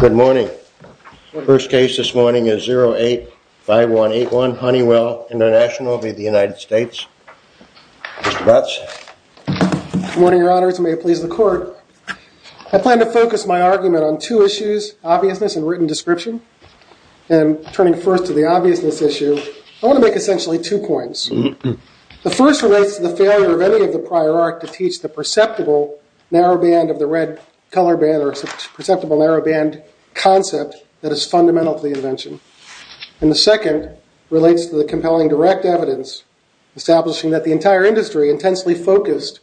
Good morning. The first case this morning is 08-5181 Honeywell International v. United States. Mr. Butts. Good morning, your honors. May it please the court. I plan to focus my argument on two issues, obviousness and written description. And turning first to the obviousness issue, I want to make essentially two points. The first relates to the failure of any of the prior art to teach the perceptible narrow band of the red color band or perceptible narrow band concept that is fundamental to the invention. And the second relates to the compelling direct evidence establishing that the entire industry intensely focused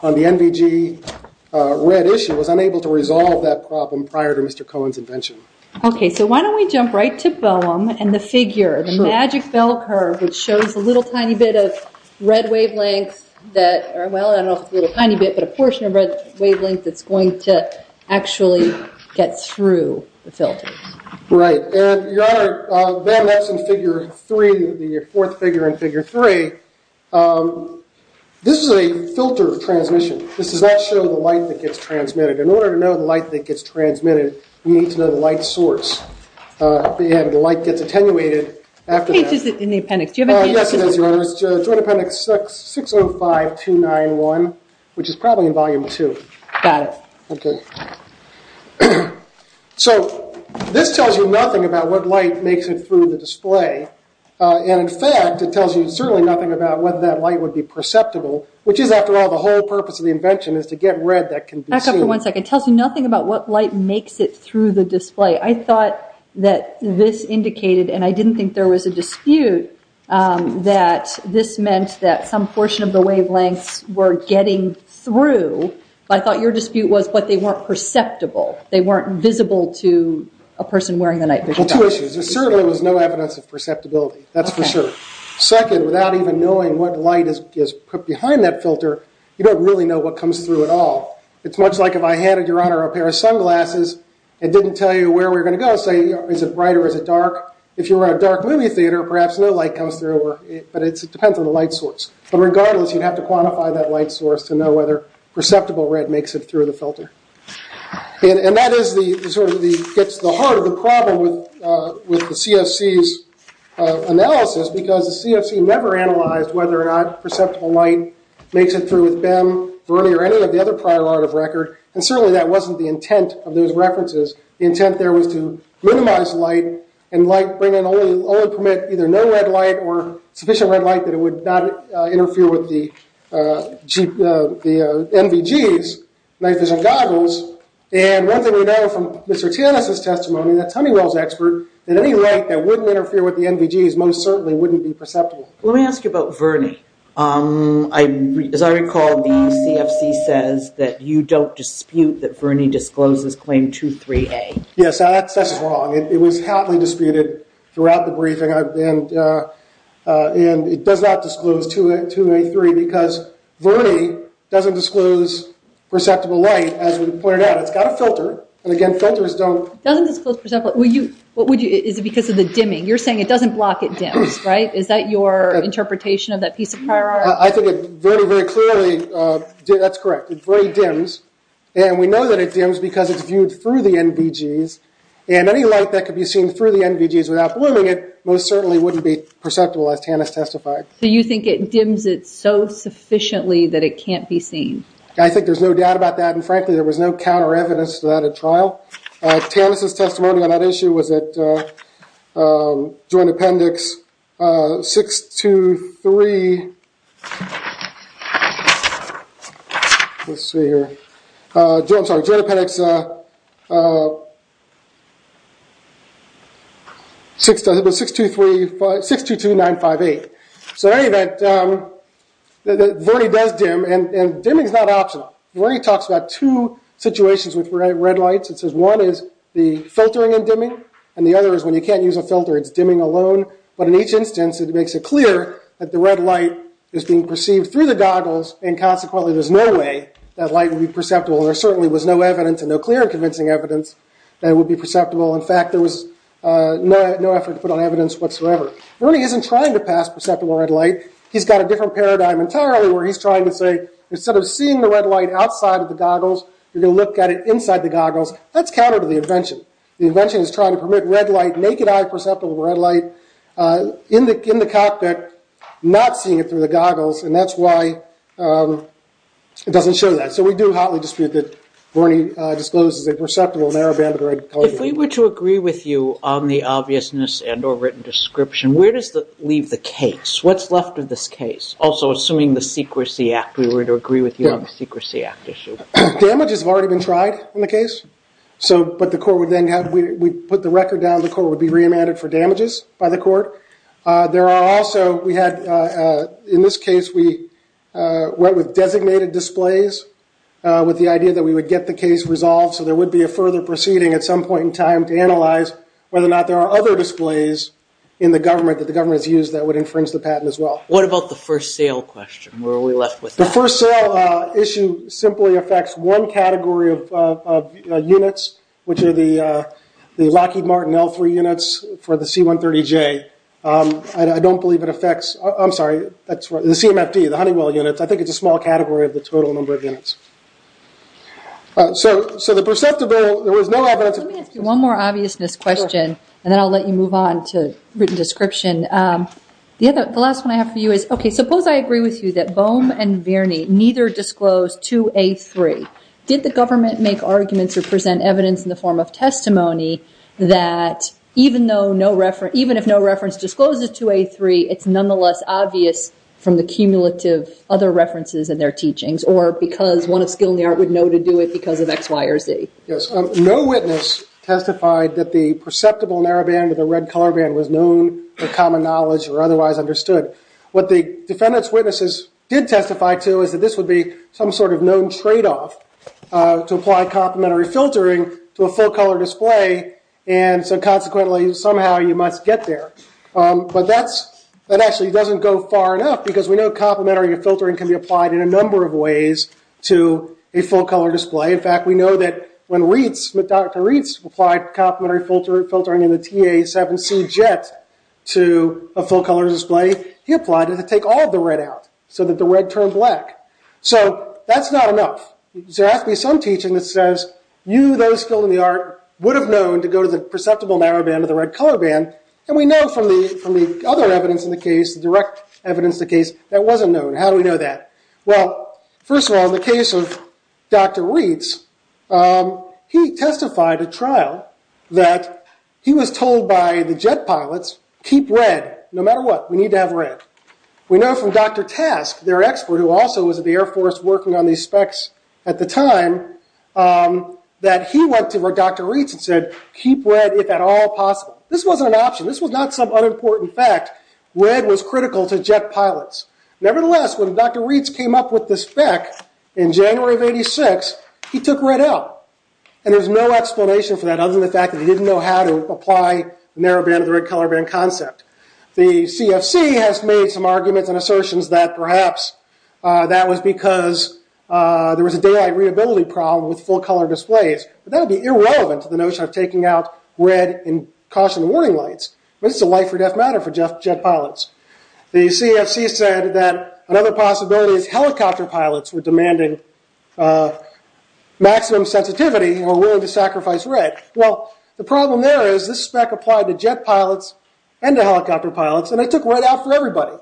on the NVG red issue was unable to resolve that problem prior to Mr. Cohen's invention. Okay, so why don't we jump right to Boehm and the figure, the magic bell curve, which shows a little tiny bit of red wavelength that, well, I don't know if it's a little tiny bit, but a portion of red wavelength that's going to actually get through the filter. Right. And, your honor, then that's in figure three, the fourth figure in figure three. This is a filter transmission. This does not show the light that gets transmitted. In order to know the light that gets transmitted, we need to know the light source. And the light gets attenuated after that. The page is in the appendix. Do you have a page? Yes, it is, your honors. Joint appendix 605291, which is probably in volume two. Got it. Okay. So, this tells you nothing about what light makes it through the display. And, in fact, it tells you certainly nothing about whether that light would be perceptible, which is, after all, the whole purpose of the invention is to get red that can be seen. Back up for one second. It tells you nothing about what light makes it through the display. I thought that this indicated, and I didn't think there was a dispute, that this meant that some portion of the wavelengths were getting through. I thought your dispute was that they weren't perceptible. They weren't visible to a person wearing the night vision goggles. Well, two issues. There certainly was no evidence of perceptibility. That's for sure. Okay. Second, without even knowing what light is put behind that filter, you don't really know what comes through at all. It's much like if I handed your honor a pair of sunglasses and didn't tell you where we were going to go, say, is it bright or is it dark? If you were in a dark movie theater, perhaps no light comes through, but it depends on the light source. But, regardless, you'd have to quantify that light source to know whether perceptible red makes it through the filter. And that gets to the heart of the problem with the CFC's analysis, because the CFC never analyzed whether or not perceptible light makes it through with BEM, Verney, or any of the other prior art of record. And certainly that wasn't the intent of those references. The intent there was to minimize light and only permit either no red light or sufficient red light that it would not interfere with the NVGs, night vision goggles. And one thing we know from Mr. Tannis' testimony, that's Honeywell's expert, that any light that wouldn't interfere with the NVGs most certainly wouldn't be perceptible. Let me ask you about Verney. As I recall, the CFC says that you don't dispute that Verney discloses claim 23A. Yes, that's wrong. It was hotly disputed throughout the briefing, and it does not disclose 283, because Verney doesn't disclose perceptible light, as we pointed out. It's got a filter, and again, filters don't… It doesn't disclose perceptible light. Is it because of the dimming? You're saying it doesn't block at dims, right? Is that your interpretation of that piece of prior art? I think it very, very clearly… That's correct. It very dims, and we know that it dims because it's viewed through the NVGs. And any light that could be seen through the NVGs without blooming it most certainly wouldn't be perceptible, as Tannis testified. So you think it dims it so sufficiently that it can't be seen? I think there's no doubt about that, and frankly, there was no counter-evidence to that at trial. Tannis' testimony on that issue was at Joint Appendix 622958. So in any event, Verney does dim, and dimming is not optional. Verney talks about two situations with red lights. It says one is the filtering and dimming, and the other is when you can't use a filter, it's dimming alone. But in each instance, it makes it clear that the red light is being perceived through the goggles, and consequently, there's no way that light would be perceptible. There certainly was no evidence and no clear and convincing evidence that it would be perceptible. In fact, there was no effort to put on evidence whatsoever. Verney isn't trying to pass perceptible red light. He's got a different paradigm entirely, where he's trying to say, instead of seeing the red light outside of the goggles, you're going to look at it inside the goggles. That's counter to the invention. The invention is trying to permit naked-eye perceptible red light in the cockpit, not seeing it through the goggles, and that's why it doesn't show that. So we do hotly dispute that Verney discloses a perceptible narrow band of the red color. If we were to agree with you on the obviousness and or written description, where does that leave the case? What's left of this case? Also, assuming the Secrecy Act, we were to agree with you on the Secrecy Act issue. Damages have already been tried on the case, but the court would then have to put the record down. The court would be reimbanded for damages by the court. There are also, in this case, we went with designated displays with the idea that we would get the case resolved, so there would be a further proceeding at some point in time to analyze whether or not there are other displays in the government that the government has used that would infringe the patent as well. What about the first sale question? Where are we left with that? The first sale issue simply affects one category of units, which are the Lockheed Martin L3 units for the C-130J. I don't believe it affects, I'm sorry, the CMFD, the Honeywell units. I think it's a small category of the total number of units. So the perceptible, there was no evidence. Let me ask you one more obviousness question, and then I'll let you move on to written description. The last one I have for you is, okay, suppose I agree with you that Bohm and Verney neither disclosed 2A3. Did the government make arguments or present evidence in the form of testimony that even if no reference discloses 2A3, it's nonetheless obvious from the cumulative other references in their teachings, or because one of skill in the art would know to do it because of X, Y, or Z? Yes. No witness testified that the perceptible narrow band or the red color band was known, or common knowledge, or otherwise understood. What the defendant's witnesses did testify to is that this would be some sort of known tradeoff to apply complementary filtering to a full-color display, and so consequently somehow you must get there. But that actually doesn't go far enough because we know complementary filtering can be applied in a number of ways to a full-color display. In fact, we know that when Dr. Reitz applied complementary filtering in the TA7C jet to a full-color display, he applied it to take all the red out so that the red turned black. So that's not enough. There has to be some teaching that says you, those skilled in the art, would have known to go to the perceptible narrow band or the red color band, and we know from the other evidence in the case, the direct evidence in the case, that wasn't known. How do we know that? Well, first of all, in the case of Dr. Reitz, he testified at trial that he was told by the jet pilots, keep red no matter what. We need to have red. We know from Dr. Task, their expert who also was at the Air Force working on these specs at the time, that he went to Dr. Reitz and said, keep red if at all possible. This wasn't an option. This was not some unimportant fact. Red was critical to jet pilots. Nevertheless, when Dr. Reitz came up with the spec in January of 1986, he took red out, and there's no explanation for that other than the fact that he didn't know how to apply the narrow band or the red color band concept. The CFC has made some arguments and assertions that perhaps that was because there was a daylight readability problem with full-color displays, but that would be irrelevant to the notion of taking out red in caution warning lights. This is a life or death matter for jet pilots. The CFC said that another possibility is helicopter pilots were demanding maximum sensitivity and were willing to sacrifice red. Well, the problem there is this spec applied to jet pilots and to helicopter pilots, and it took red out for everybody.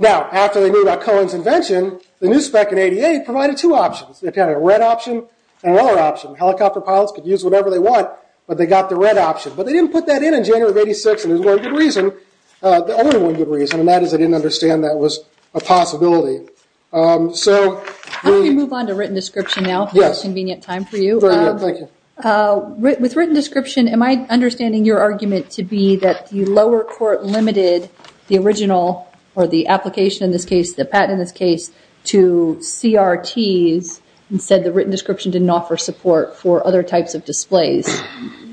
Now, after they knew about Cohen's invention, the new spec in 88 provided two options. It had a red option and a lower option. Helicopter pilots could use whatever they want, but they got the red option. But they didn't put that in in January of 86, and there's no good reason. The only one good reason, and that is they didn't understand that was a possibility. So we... I'm going to move on to written description now for the most convenient time for you. Go ahead. Thank you. With written description, am I understanding your argument to be that the lower court limited the original or the application in this case, the patent in this case, to CRTs and said the written description didn't offer support for other types of displays?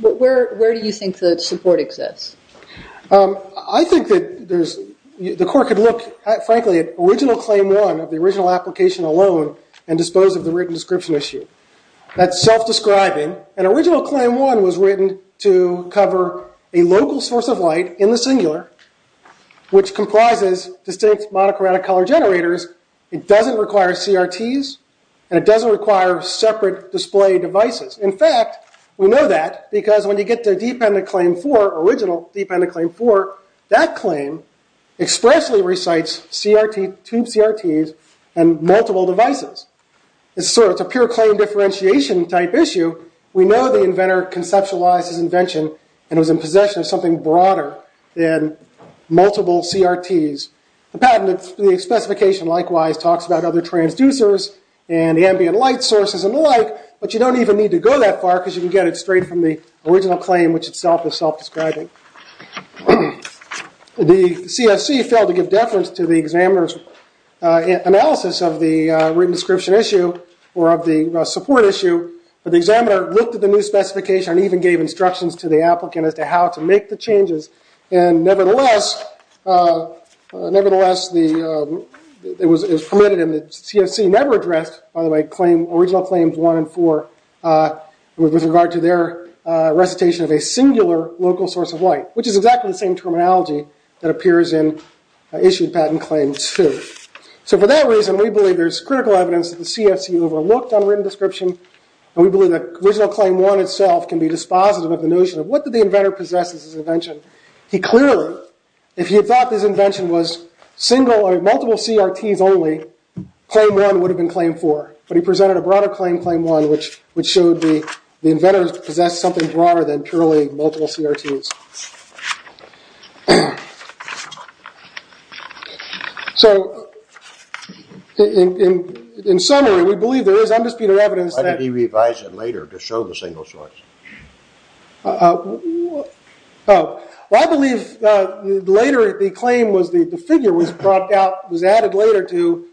Where do you think the support exists? I think that there's... The court could look, frankly, at original claim one of the original application alone and dispose of the written description issue. That's self-describing. An original claim one was written to cover a local source of light in the singular, which comprises distinct monochromatic color generators. It doesn't require CRTs, and it doesn't require separate display devices. In fact, we know that because when you get to dependent claim four, original dependent claim four, that claim expressly recites tube CRTs and multiple devices. It's a pure claim differentiation type issue. We know the inventor conceptualized his invention and was in possession of something broader than multiple CRTs. The patent, the specification likewise talks about other transducers and ambient light sources and the like, but you don't even need to go that far because you can get it straight from the original claim, which itself is self-describing. The CSC failed to give deference to the examiner's analysis of the written description issue or of the support issue, but the examiner looked at the new specification and even gave instructions to the applicant as to how to make the changes. And nevertheless, it was permitted and the CSC never addressed, by the way, original claims one and four with regard to their recitation of a singular local source of light, which is exactly the same terminology that appears in issued patent claims two. So for that reason, we believe there's critical evidence that the CSC overlooked on written description, and we believe that original claim one itself can be dispositive of the notion of what did the inventor possess as his invention. He clearly, if he had thought his invention was single or multiple CRTs only, claim one would have been claim four, but he presented a broader claim, claim one, which showed the inventor possessed something broader than purely multiple CRTs. So in summary, we believe there is undisputed evidence that... Why did he revise it later to show the single source? Well, I believe later the claim was the figure was brought out, was added later to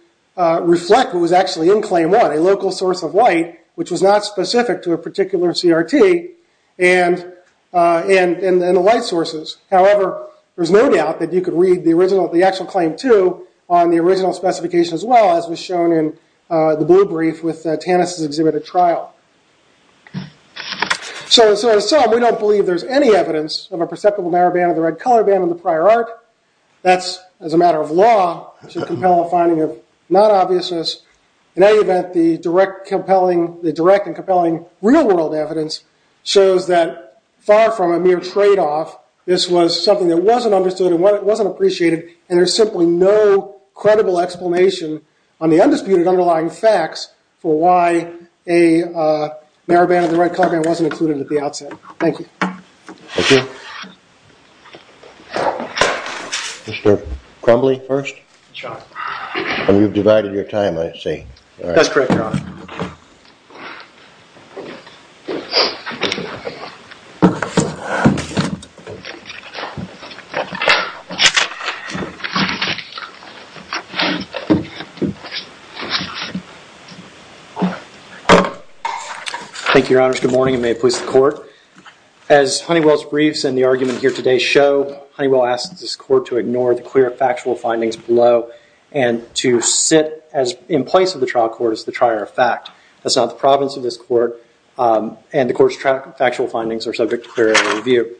reflect what was actually in claim one, a local source of light, which was not specific to a particular CRT, and the light sources. However, there's no doubt that you could read the original, the actual claim two, on the original specification as well, as was shown in the blue brief with Tanis' exhibit at trial. So we don't believe there's any evidence of a perceptible narrow band of the red color band in the prior art. That's, as a matter of law, should compel a finding of non-obviousness. In any event, the direct and compelling real-world evidence shows that far from a mere trade-off, this was something that wasn't understood and wasn't appreciated, and there's simply no credible explanation on the undisputed underlying facts for why a narrow band of the red color band wasn't included at the outset. Thank you. Thank you. Mr. Crumbly first? Yes, Your Honor. And you've divided your time, I see. That's correct, Your Honor. Thank you, Your Honors. Good morning, and may it please the Court. As Honeywell's briefs and the argument here today show, Honeywell asks this Court to ignore the clear factual findings below and to sit in place of the trial court as the trier of fact. That's not the province of this Court, and the Court's factual findings are subject to clear review.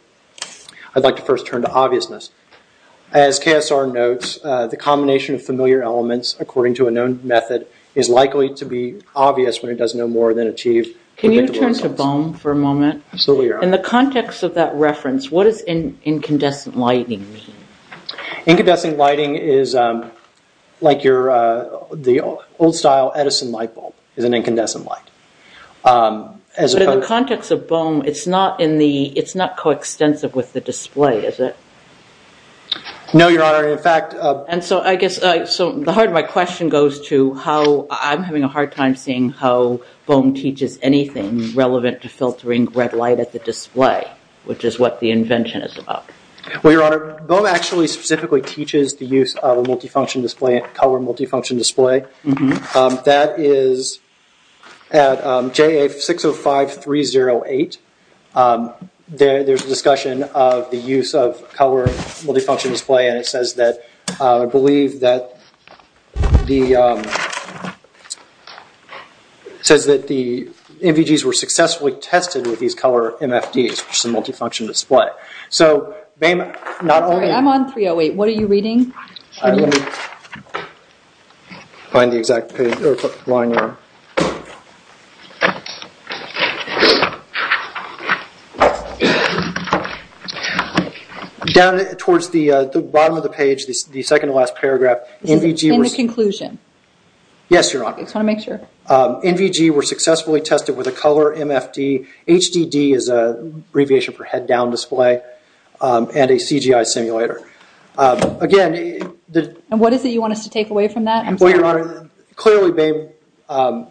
I'd like to first turn to obviousness. As KSR notes, the combination of familiar elements according to a known method is likely to be obvious when it does no more than achieve predictable results. Can you turn to BOEM for a moment? Absolutely, Your Honor. In the context of that reference, what does incandescent lighting mean? Incandescent lighting is like the old-style Edison light bulb is an incandescent light. But in the context of BOEM, it's not coextensive with the display, is it? No, Your Honor. And so I guess the heart of my question goes to how I'm having a hard time seeing how BOEM teaches anything relevant to filtering red light at the display, which is what the invention is about. Well, Your Honor, BOEM actually specifically teaches the use of a multifunction display, a color multifunction display. That is at JA605308. There's a discussion of the use of color multifunction display, and it says that the NVGs were successfully tested with these color MFDs, which is a multifunction display. I'm sorry, I'm on 308. What are you reading? Let me find the exact line there. Down towards the bottom of the page, the second-to-last paragraph, NVGs were... In the conclusion. Yes, Your Honor. I just want to make sure. NVGs were successfully tested with a color MFD. HDD is an abbreviation for head-down display, and a CGI simulator. Again... And what is it you want us to take away from that? Well, Your Honor, clearly BOEM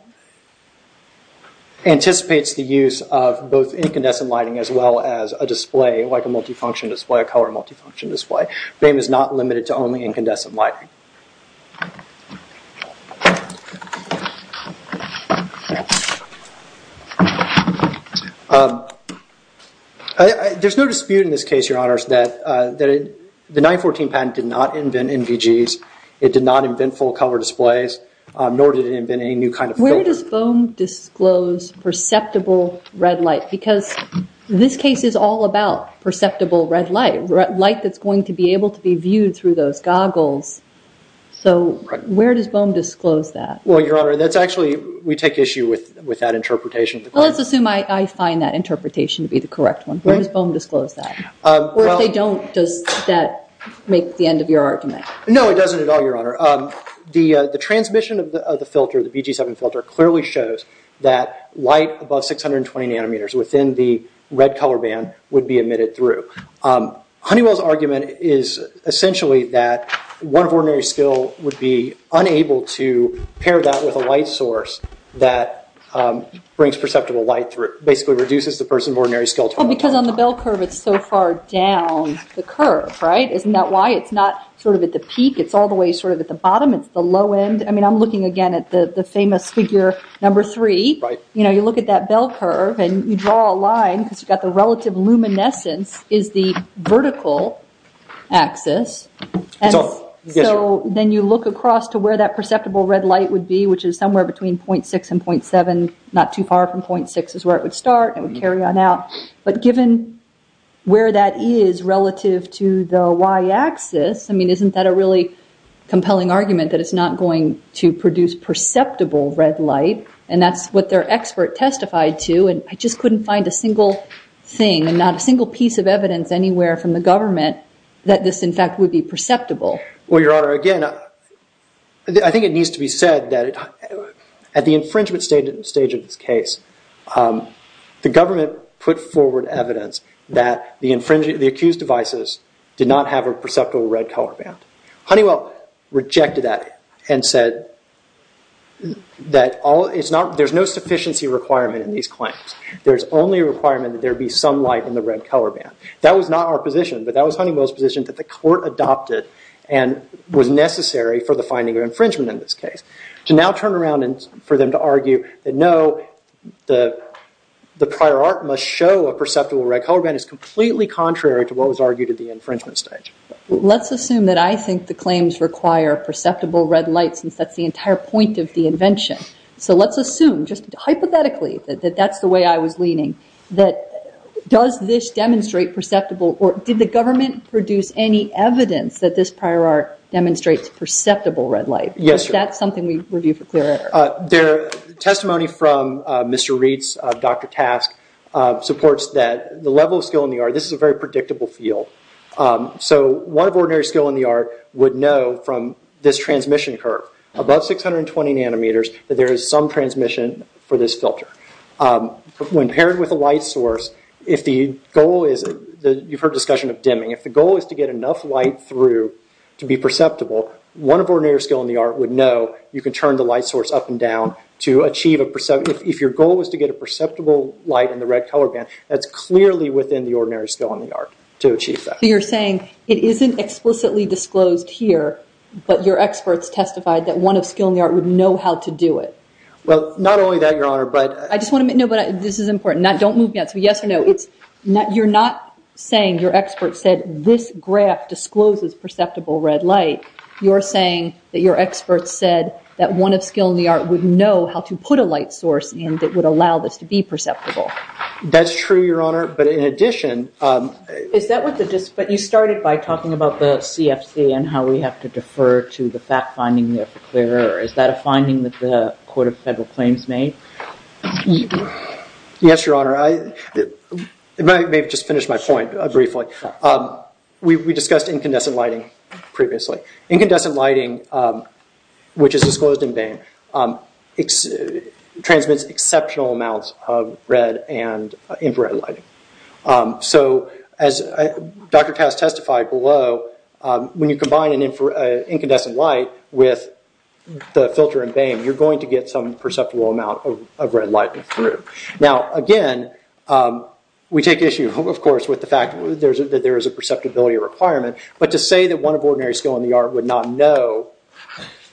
anticipates the use of both incandescent lighting as well as a display, like a multifunction display, a color multifunction display. BOEM is not limited to only incandescent lighting. There's no dispute in this case, Your Honors, that the 1914 patent did not invent NVGs. It did not invent full-color displays, nor did it invent any new kind of filter. Where does BOEM disclose perceptible red light? Because this case is all about perceptible red light, red light that's going to be able to be viewed through those goggles. So where does BOEM disclose that? Well, Your Honor, that's actually... We take issue with that interpretation. Let's assume I find that interpretation to be the correct one. Where does BOEM disclose that? Or if they don't, does that make the end of your argument? No, it doesn't at all, Your Honor. The transmission of the filter, the VG7 filter, clearly shows that light above 620 nanometers within the red color band would be emitted through. Honeywell's argument is essentially that one of ordinary skill would be unable to pair that with a light source that brings perceptible light through, basically reduces the person of ordinary skill total. Because on the bell curve, it's so far down the curve, right? Isn't that why it's not sort of at the peak? It's all the way sort of at the bottom. It's the low end. I mean, I'm looking again at the famous figure number three. Right. You know, you look at that bell curve, and you draw a line because you've got the relative luminescence is the vertical axis. So then you look across to where that perceptible red light would be, which is somewhere between 0.6 and 0.7, not too far from 0.6 is where it would start. It would carry on out. But given where that is relative to the y-axis, I mean, isn't that a really compelling argument that it's not going to produce perceptible red light? And that's what their expert testified to. And I just couldn't find a single thing and not a single piece of evidence anywhere from the government that this, in fact, would be perceptible. Well, Your Honor, again, I think it needs to be said that at the infringement stage of this case, the government put forward evidence that the accused devices did not have a perceptible red color band. Honeywell rejected that and said that there's no sufficiency requirement in these claims. There's only a requirement that there be some light in the red color band. That was not our position, but that was Honeywell's position that the court adopted and was necessary for the finding of infringement in this case. To now turn around and for them to argue that, no, the prior art must show a perceptible red color band is completely contrary to what was argued at the infringement stage. Let's assume that I think the claims require perceptible red light since that's the entire point of the invention. So let's assume, just hypothetically, that that's the way I was leaning, that does this demonstrate perceptible or did the government produce any evidence that this prior art demonstrates perceptible red light? Yes, sir. Is that something we review for clearance? Testimony from Mr. Reitz, Dr. Task, supports that the level of skill in the art, this is a very predictable field, so one of ordinary skill in the art would know from this transmission curve, above 620 nanometers, that there is some transmission for this filter. When paired with a light source, if the goal is, you've heard discussion of dimming, if the goal is to get enough light through to be perceptible, one of ordinary skill in the art would know you can turn the light source up and down to achieve a perceptible, if your goal is to get a perceptible light in the red color band, that's clearly within the ordinary skill in the art to achieve that. So you're saying it isn't explicitly disclosed here, but your experts testified that one of skill in the art would know how to do it. Well, not only that, Your Honor, but... I just want to make, no, but this is important. Don't move yet. So yes or no. You're not saying your experts said this graph discloses perceptible red light. You're saying that your experts said that one of skill in the art would know how to put a light source in that would allow this to be perceptible. That's true, Your Honor, but in addition... Is that what the... But you started by talking about the CFC and how we have to defer to the fact finding there for clearer. Is that a finding that the Court of Federal Claims made? Yes, Your Honor. Maybe I'll just finish my point briefly. We discussed incandescent lighting previously. Incandescent lighting, which is disclosed in BAME, transmits exceptional amounts of red and infrared lighting. So as Dr. Tass testified below, when you combine an incandescent light with the filter in BAME, you're going to get some perceptible amount of red light through. Now, again, we take issue, of course, with the fact that there is a perceptibility requirement, but to say that one of ordinary skill in the art would not know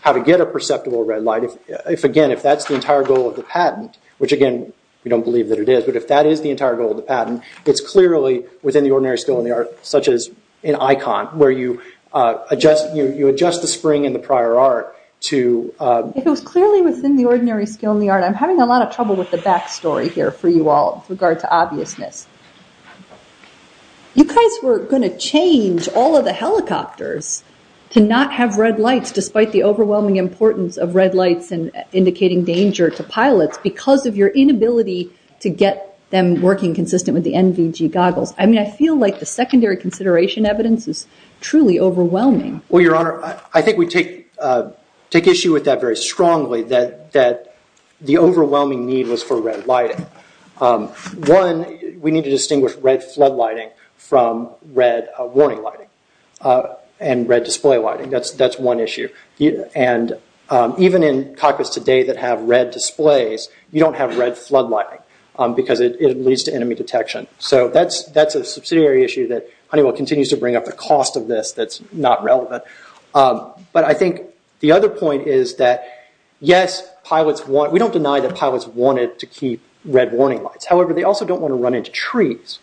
how to get a perceptible red light, if, again, if that's the entire goal of the patent, which, again, we don't believe that it is, but if that is the entire goal of the patent, it's clearly within the ordinary skill in the art, such as an icon where you adjust the spring in the prior art to... It was clearly within the ordinary skill in the art. I'm having a lot of trouble with the back story here for you all with regard to obviousness. You guys were going to change all of the helicopters to not have red lights, despite the overwhelming importance of red lights and indicating danger to pilots because of your inability to get them working consistent with the NVG goggles. I mean, I feel like the secondary consideration evidence is truly overwhelming. Well, Your Honor, I think we take issue with that very strongly, that the overwhelming need was for red lighting. One, we need to distinguish red flood lighting from red warning lighting and red display lighting. That's one issue. And even in cockpits today that have red displays, you don't have red flood lighting because it leads to enemy detection. So that's a subsidiary issue that Honeywell continues to bring up, the cost of this that's not relevant. But I think the other point is that, yes, we don't deny that pilots wanted to keep red warning lights. However, they also don't want to run into trees.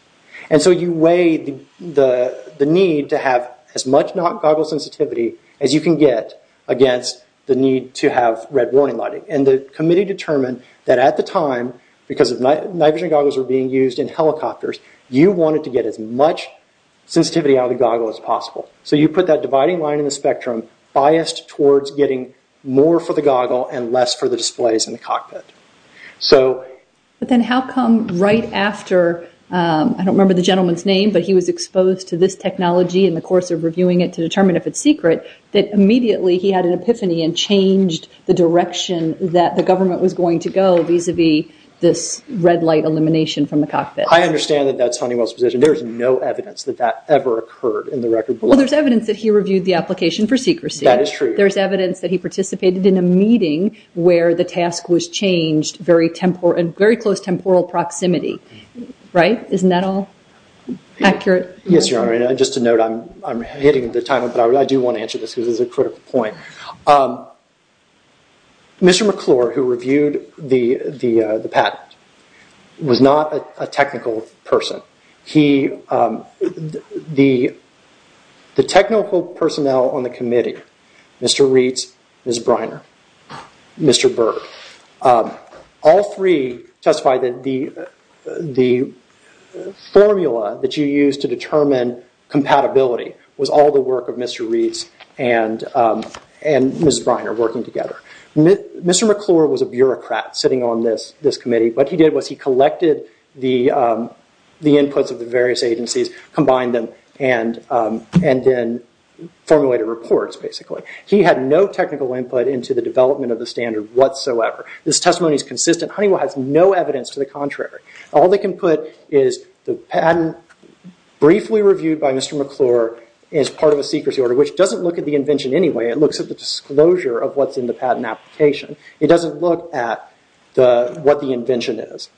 And so you weigh the need to have as much goggles sensitivity as you can get against the need to have red warning lighting. And the committee determined that at the time, because NVG goggles were being used in helicopters, you wanted to get as much sensitivity out of the goggle as possible. So you put that dividing line in the spectrum biased towards getting more for the goggle and less for the displays in the cockpit. But then how come right after, I don't remember the gentleman's name, but he was exposed to this technology in the course of reviewing it to determine if it's secret, that immediately he had an epiphany and changed the direction that the government was going to go vis-a-vis this red light elimination from the cockpit. I understand that that's Honeywell's position. There's no evidence that that ever occurred in the record. Well, there's evidence that he reviewed the application for secrecy. That is true. There's evidence that he participated in a meeting where the task was changed in very close temporal proximity. Right? Isn't that all accurate? Yes, Your Honor. Just a note, I'm hitting the time, but I do want to answer this because it's a critical point. Mr. McClure, who reviewed the patent, was not a technical person. The technical personnel on the committee, Mr. Reitz, Ms. Briner, Mr. Berg, all three testified that the formula that you used to determine compatibility was all the work of Mr. Reitz and Ms. Briner working together. Mr. McClure was a bureaucrat sitting on this committee. What he did was he collected the inputs of the various agencies, combined them, and then formulated reports, basically. He had no technical input into the development of the standard whatsoever. This testimony is consistent. Honeywell has no evidence to the contrary. All they can put is the patent briefly reviewed by Mr. McClure is part of a secrecy order, which doesn't look at the invention anyway. It looks at the disclosure of what's in the patent application. It doesn't look at what the invention is.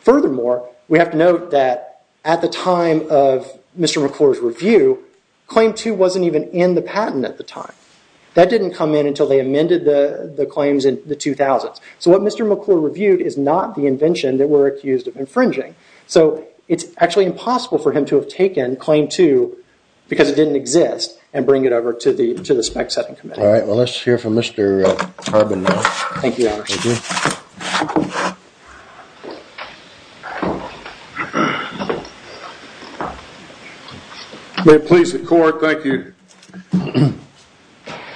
Furthermore, we have to note that at the time of Mr. McClure's review, Claim 2 wasn't even in the patent at the time. That didn't come in until they amended the claims in the 2000s. So what Mr. McClure reviewed is not the invention that we're accused of infringing. So it's actually impossible for him to have taken Claim 2 because it didn't exist and bring it over to the spec-setting committee. All right. Well, let's hear from Mr. Harbin now. Thank you, Your Honor. Thank you. May it please the Court. Thank you.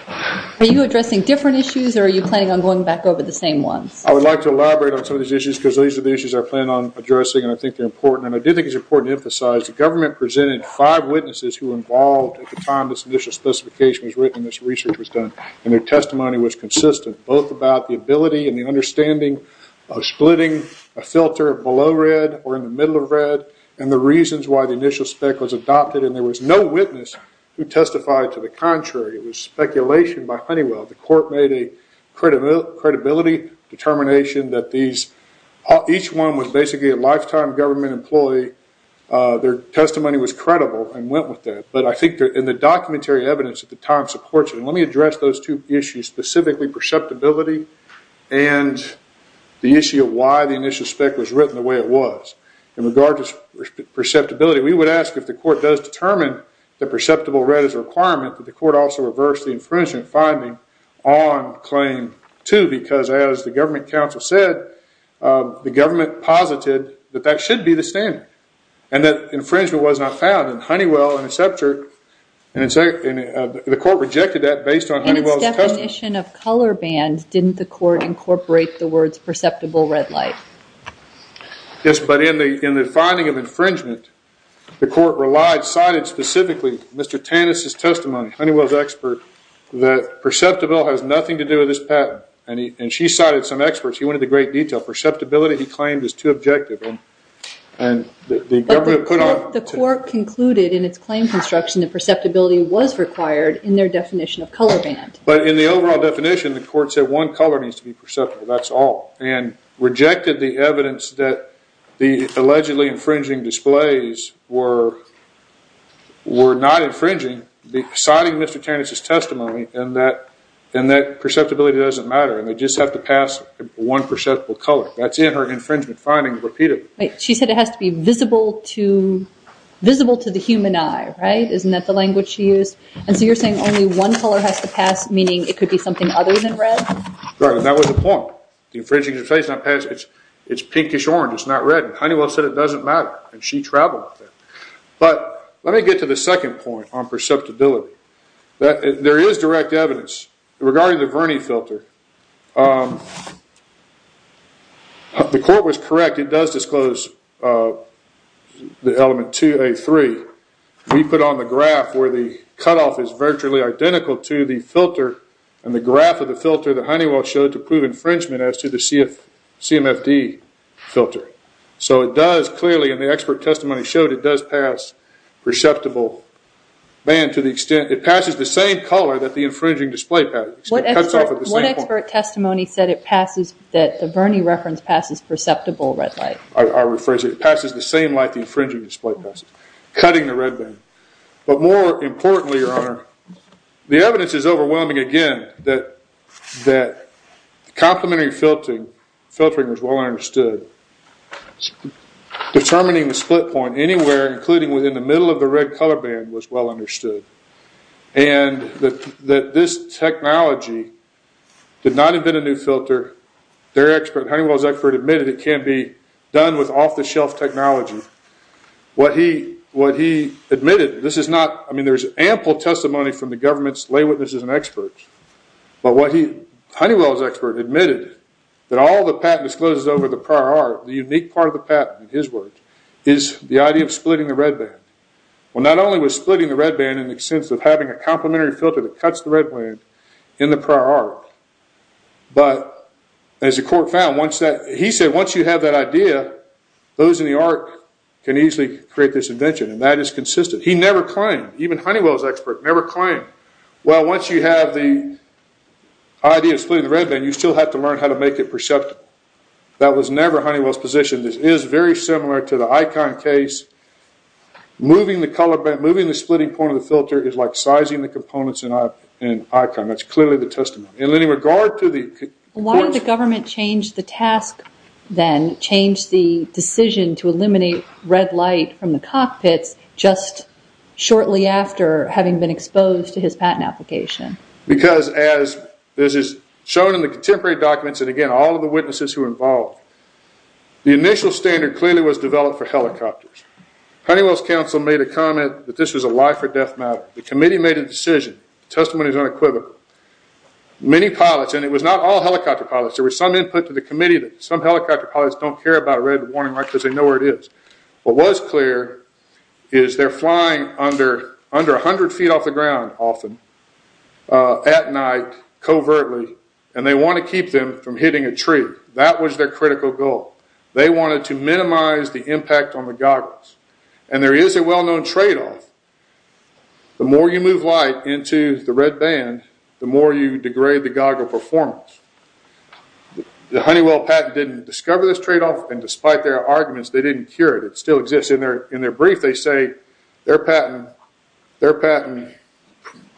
Are you addressing different issues or are you planning on going back over the same ones? I would like to elaborate on some of these issues because these are the issues I plan on addressing and I think they're important. And I do think it's important to emphasize the government presented five witnesses who were involved at the time this initial specification was written, this research was done, and their testimony was consistent, both about the ability and the understanding of the patent. The understanding of splitting a filter below red or in the middle of red and the reasons why the initial spec was adopted. And there was no witness who testified to the contrary. It was speculation by Honeywell. The Court made a credibility determination that each one was basically a lifetime government employee. Their testimony was credible and went with that. But I think in the documentary evidence at the time supports it. Let me address those two issues, specifically perceptibility and the issue of why the initial spec was written the way it was. In regard to perceptibility, we would ask if the Court does determine that perceptible red is a requirement, that the Court also reverse the infringement finding on claim two because as the government counsel said, the government posited that that should be the standard and that infringement was not found. The Court rejected that based on Honeywell's testimony. In its definition of color band, didn't the Court incorporate the words perceptible red light? Yes, but in the finding of infringement, the Court cited specifically Mr. Tannis' testimony, Honeywell's expert, that perceptible has nothing to do with this patent. And she cited some experts. She went into great detail. Perceptibility, he claimed, is too objective. But the Court concluded in its claim construction that perceptibility was required in their definition of color band. But in the overall definition, the Court said one color needs to be perceptible, that's all, and rejected the evidence that the allegedly infringing displays were not infringing, citing Mr. Tannis' testimony and that perceptibility doesn't matter and they just have to pass one perceptible color. That's in her infringement finding repeatedly. She said it has to be visible to the human eye, right? Isn't that the language she used? And so you're saying only one color has to pass, meaning it could be something other than red? Right, and that was the point. The infringing displays not pass, it's pinkish orange, it's not red. Honeywell said it doesn't matter and she traveled with it. But let me get to the second point on perceptibility. There is direct evidence regarding the Verney filter. The Court was correct, it does disclose the element 2A3. We put on the graph where the cutoff is virtually identical to the filter and the graph of the filter that Honeywell showed to prove infringement as to the CMFD filter. So it does clearly, and the expert testimony showed it does pass perceptible band to the extent, it passes the same color that the infringing display passes. What expert testimony said it passes, that the Verney reference passes perceptible red light? I'll rephrase it. It passes the same light the infringing display passes, cutting the red band. But more importantly, Your Honor, the evidence is overwhelming again that complementary filtering was well understood. Determining the split point anywhere, including within the middle of the red color band, was well understood. And that this technology did not invent a new filter. Honeywell's expert admitted it can be done with off-the-shelf technology. What he admitted, this is not, I mean there's ample testimony from the government's lay witnesses and experts. But what he, Honeywell's expert admitted, that all the patent discloses over the prior art, the unique part of the patent in his words, is the idea of splitting the red band. Well not only was splitting the red band in the sense of having a complementary filter that cuts the red band in the prior art, but as the court found, he said once you have that idea, those in the art can easily create this invention. And that is consistent. He never claimed, even Honeywell's expert never claimed, well once you have the idea of splitting the red band, you still have to learn how to make it perceptible. That was never Honeywell's position. This is very similar to the Icon case. Moving the color band, moving the splitting point of the filter is like sizing the components in Icon. That's clearly the testimony. In any regard to the... Why did the government change the task then, change the decision to eliminate red light from the cockpits, just shortly after having been exposed to his patent application? Because as this is shown in the contemporary documents, and again all of the witnesses who were involved, the initial standard clearly was developed for helicopters. Honeywell's counsel made a comment that this was a life or death matter. The committee made a decision. The testimony is unequivocal. Many pilots, and it was not all helicopter pilots, there was some input to the committee that some helicopter pilots don't care about a red warning light because they know where it is. What was clear is they're flying under 100 feet off the ground often, at night, covertly, and they want to keep them from hitting a tree. That was their critical goal. They wanted to minimize the impact on the goggles. There is a well-known trade-off. The more you move light into the red band, the more you degrade the goggle performance. The Honeywell patent didn't discover this trade-off, and despite their arguments, they didn't cure it. It still exists. In their brief, they say their patent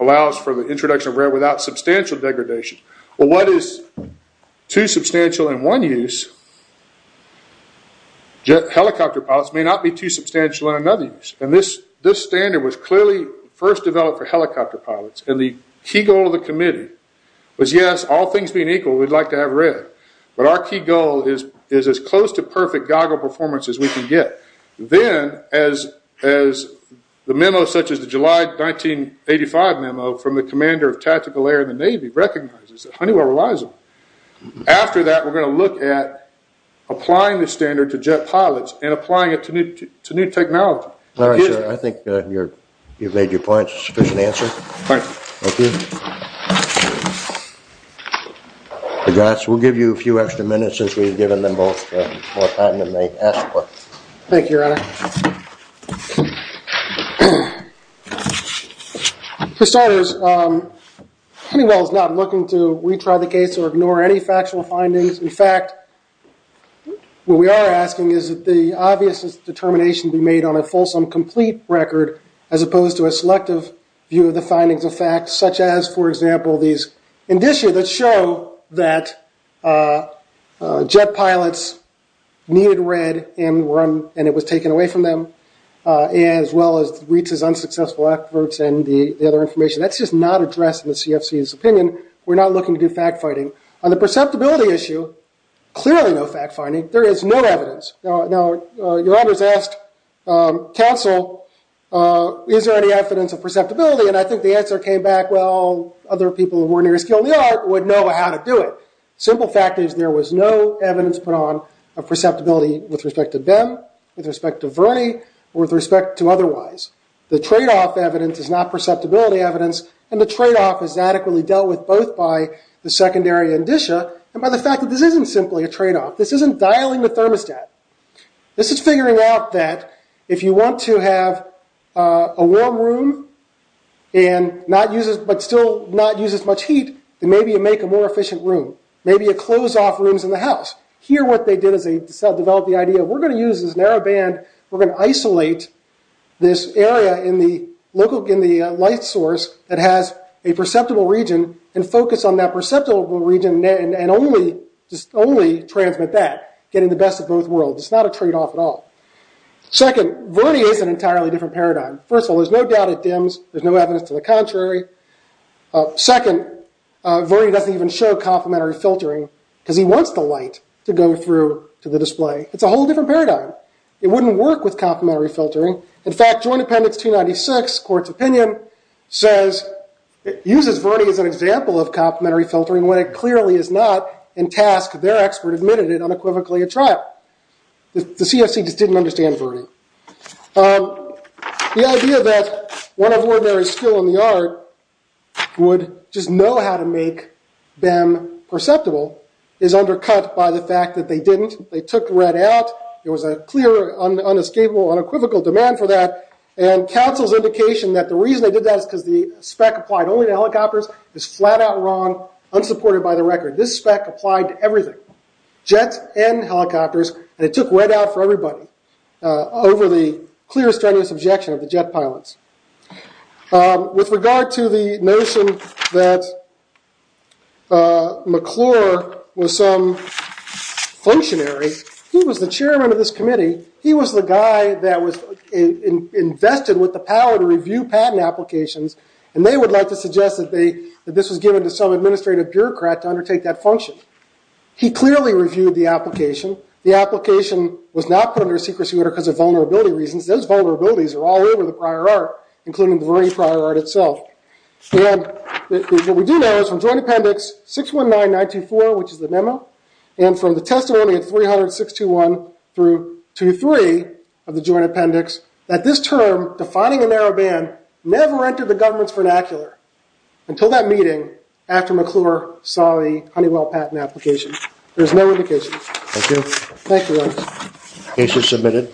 allows for the introduction of red without substantial degradation. What is too substantial in one use? Helicopter pilots may not be too substantial in another use. This standard was clearly first developed for helicopter pilots. The key goal of the committee was, yes, all things being equal, we'd like to have red, but our key goal is as close to perfect goggle performance as we can get. Then, as the memo such as the July 1985 memo from the commander of tactical air in the Navy recognizes, Honeywell relies on it. After that, we're going to look at applying this standard to jet pilots and applying it to new technology. I think you've made your point. It's a sufficient answer. Thank you. We'll give you a few extra minutes since we've given them both more time than they asked for. Thank you, Your Honor. For starters, Honeywell is not looking to retry the case or ignore any factual findings. In fact, what we are asking is that the obvious determination be made on a fulsome, complete record as opposed to a selective view of the findings of fact, such as, for example, these indicia that show that jet pilots needed red and it was taken away from them, as well as Reitz's unsuccessful efforts and the other information. That's just not addressed in the CFC's opinion. We're not looking to do fact-finding. On the perceptibility issue, clearly no fact-finding. There is no evidence. Your Honor has asked counsel, is there any evidence of perceptibility? Clearly, and I think the answer came back, well, other people who were near skill in the art would know how to do it. Simple fact is there was no evidence put on of perceptibility with respect to them, with respect to Verney, or with respect to otherwise. The trade-off evidence is not perceptibility evidence, and the trade-off is adequately dealt with both by the secondary indicia and by the fact that this isn't simply a trade-off. This isn't dialing the thermostat. This is figuring out that if you want to have a warm room, but still not use as much heat, then maybe you make a more efficient room. Maybe you close off rooms in the house. Here what they did is they developed the idea, we're going to use this narrow band, we're going to isolate this area in the light source that has a perceptible region and focus on that perceptible region and only transmit that, getting the best of both worlds. It's not a trade-off at all. Second, Verney is an entirely different paradigm. First of all, there's no doubt it dims. There's no evidence to the contrary. Second, Verney doesn't even show complementary filtering because he wants the light to go through to the display. It's a whole different paradigm. It wouldn't work with complementary filtering. In fact, Joint Appendix 296, court's opinion, says it uses Verney as an example of complementary filtering when it clearly is not in task. Their expert admitted it unequivocally a trap. The CFC just didn't understand Verney. The idea that one of ordinary skill in the art would just know how to make BEM perceptible is undercut by the fact that they didn't. They took RED out. There was a clear, unescapable, unequivocal demand for that. Counsel's indication that the reason they did that is because the spec applied only to helicopters is flat out wrong, unsupported by the record. This spec applied to everything, jets and helicopters, and it took RED out for everybody over the clear, strenuous objection of the jet pilots. With regard to the notion that McClure was some functionary, he was the chairman of this committee. He was the guy that was invested with the power to review patent applications, and they would like to suggest that this was given to some administrative bureaucrat to undertake that function. He clearly reviewed the application. The application was not put under secrecy order because of vulnerability reasons. Those vulnerabilities are all over the prior art, including the Verney prior art itself. What we do know is from Joint Appendix 619924, which is the memo, and from the testimony of 30621 through 203 of the Joint Appendix, that this term, defining a narrow ban, never entered the government's vernacular until that meeting after McClure saw the Honeywell patent application. There's no indication. Thank you. Thank you. Case is submitted.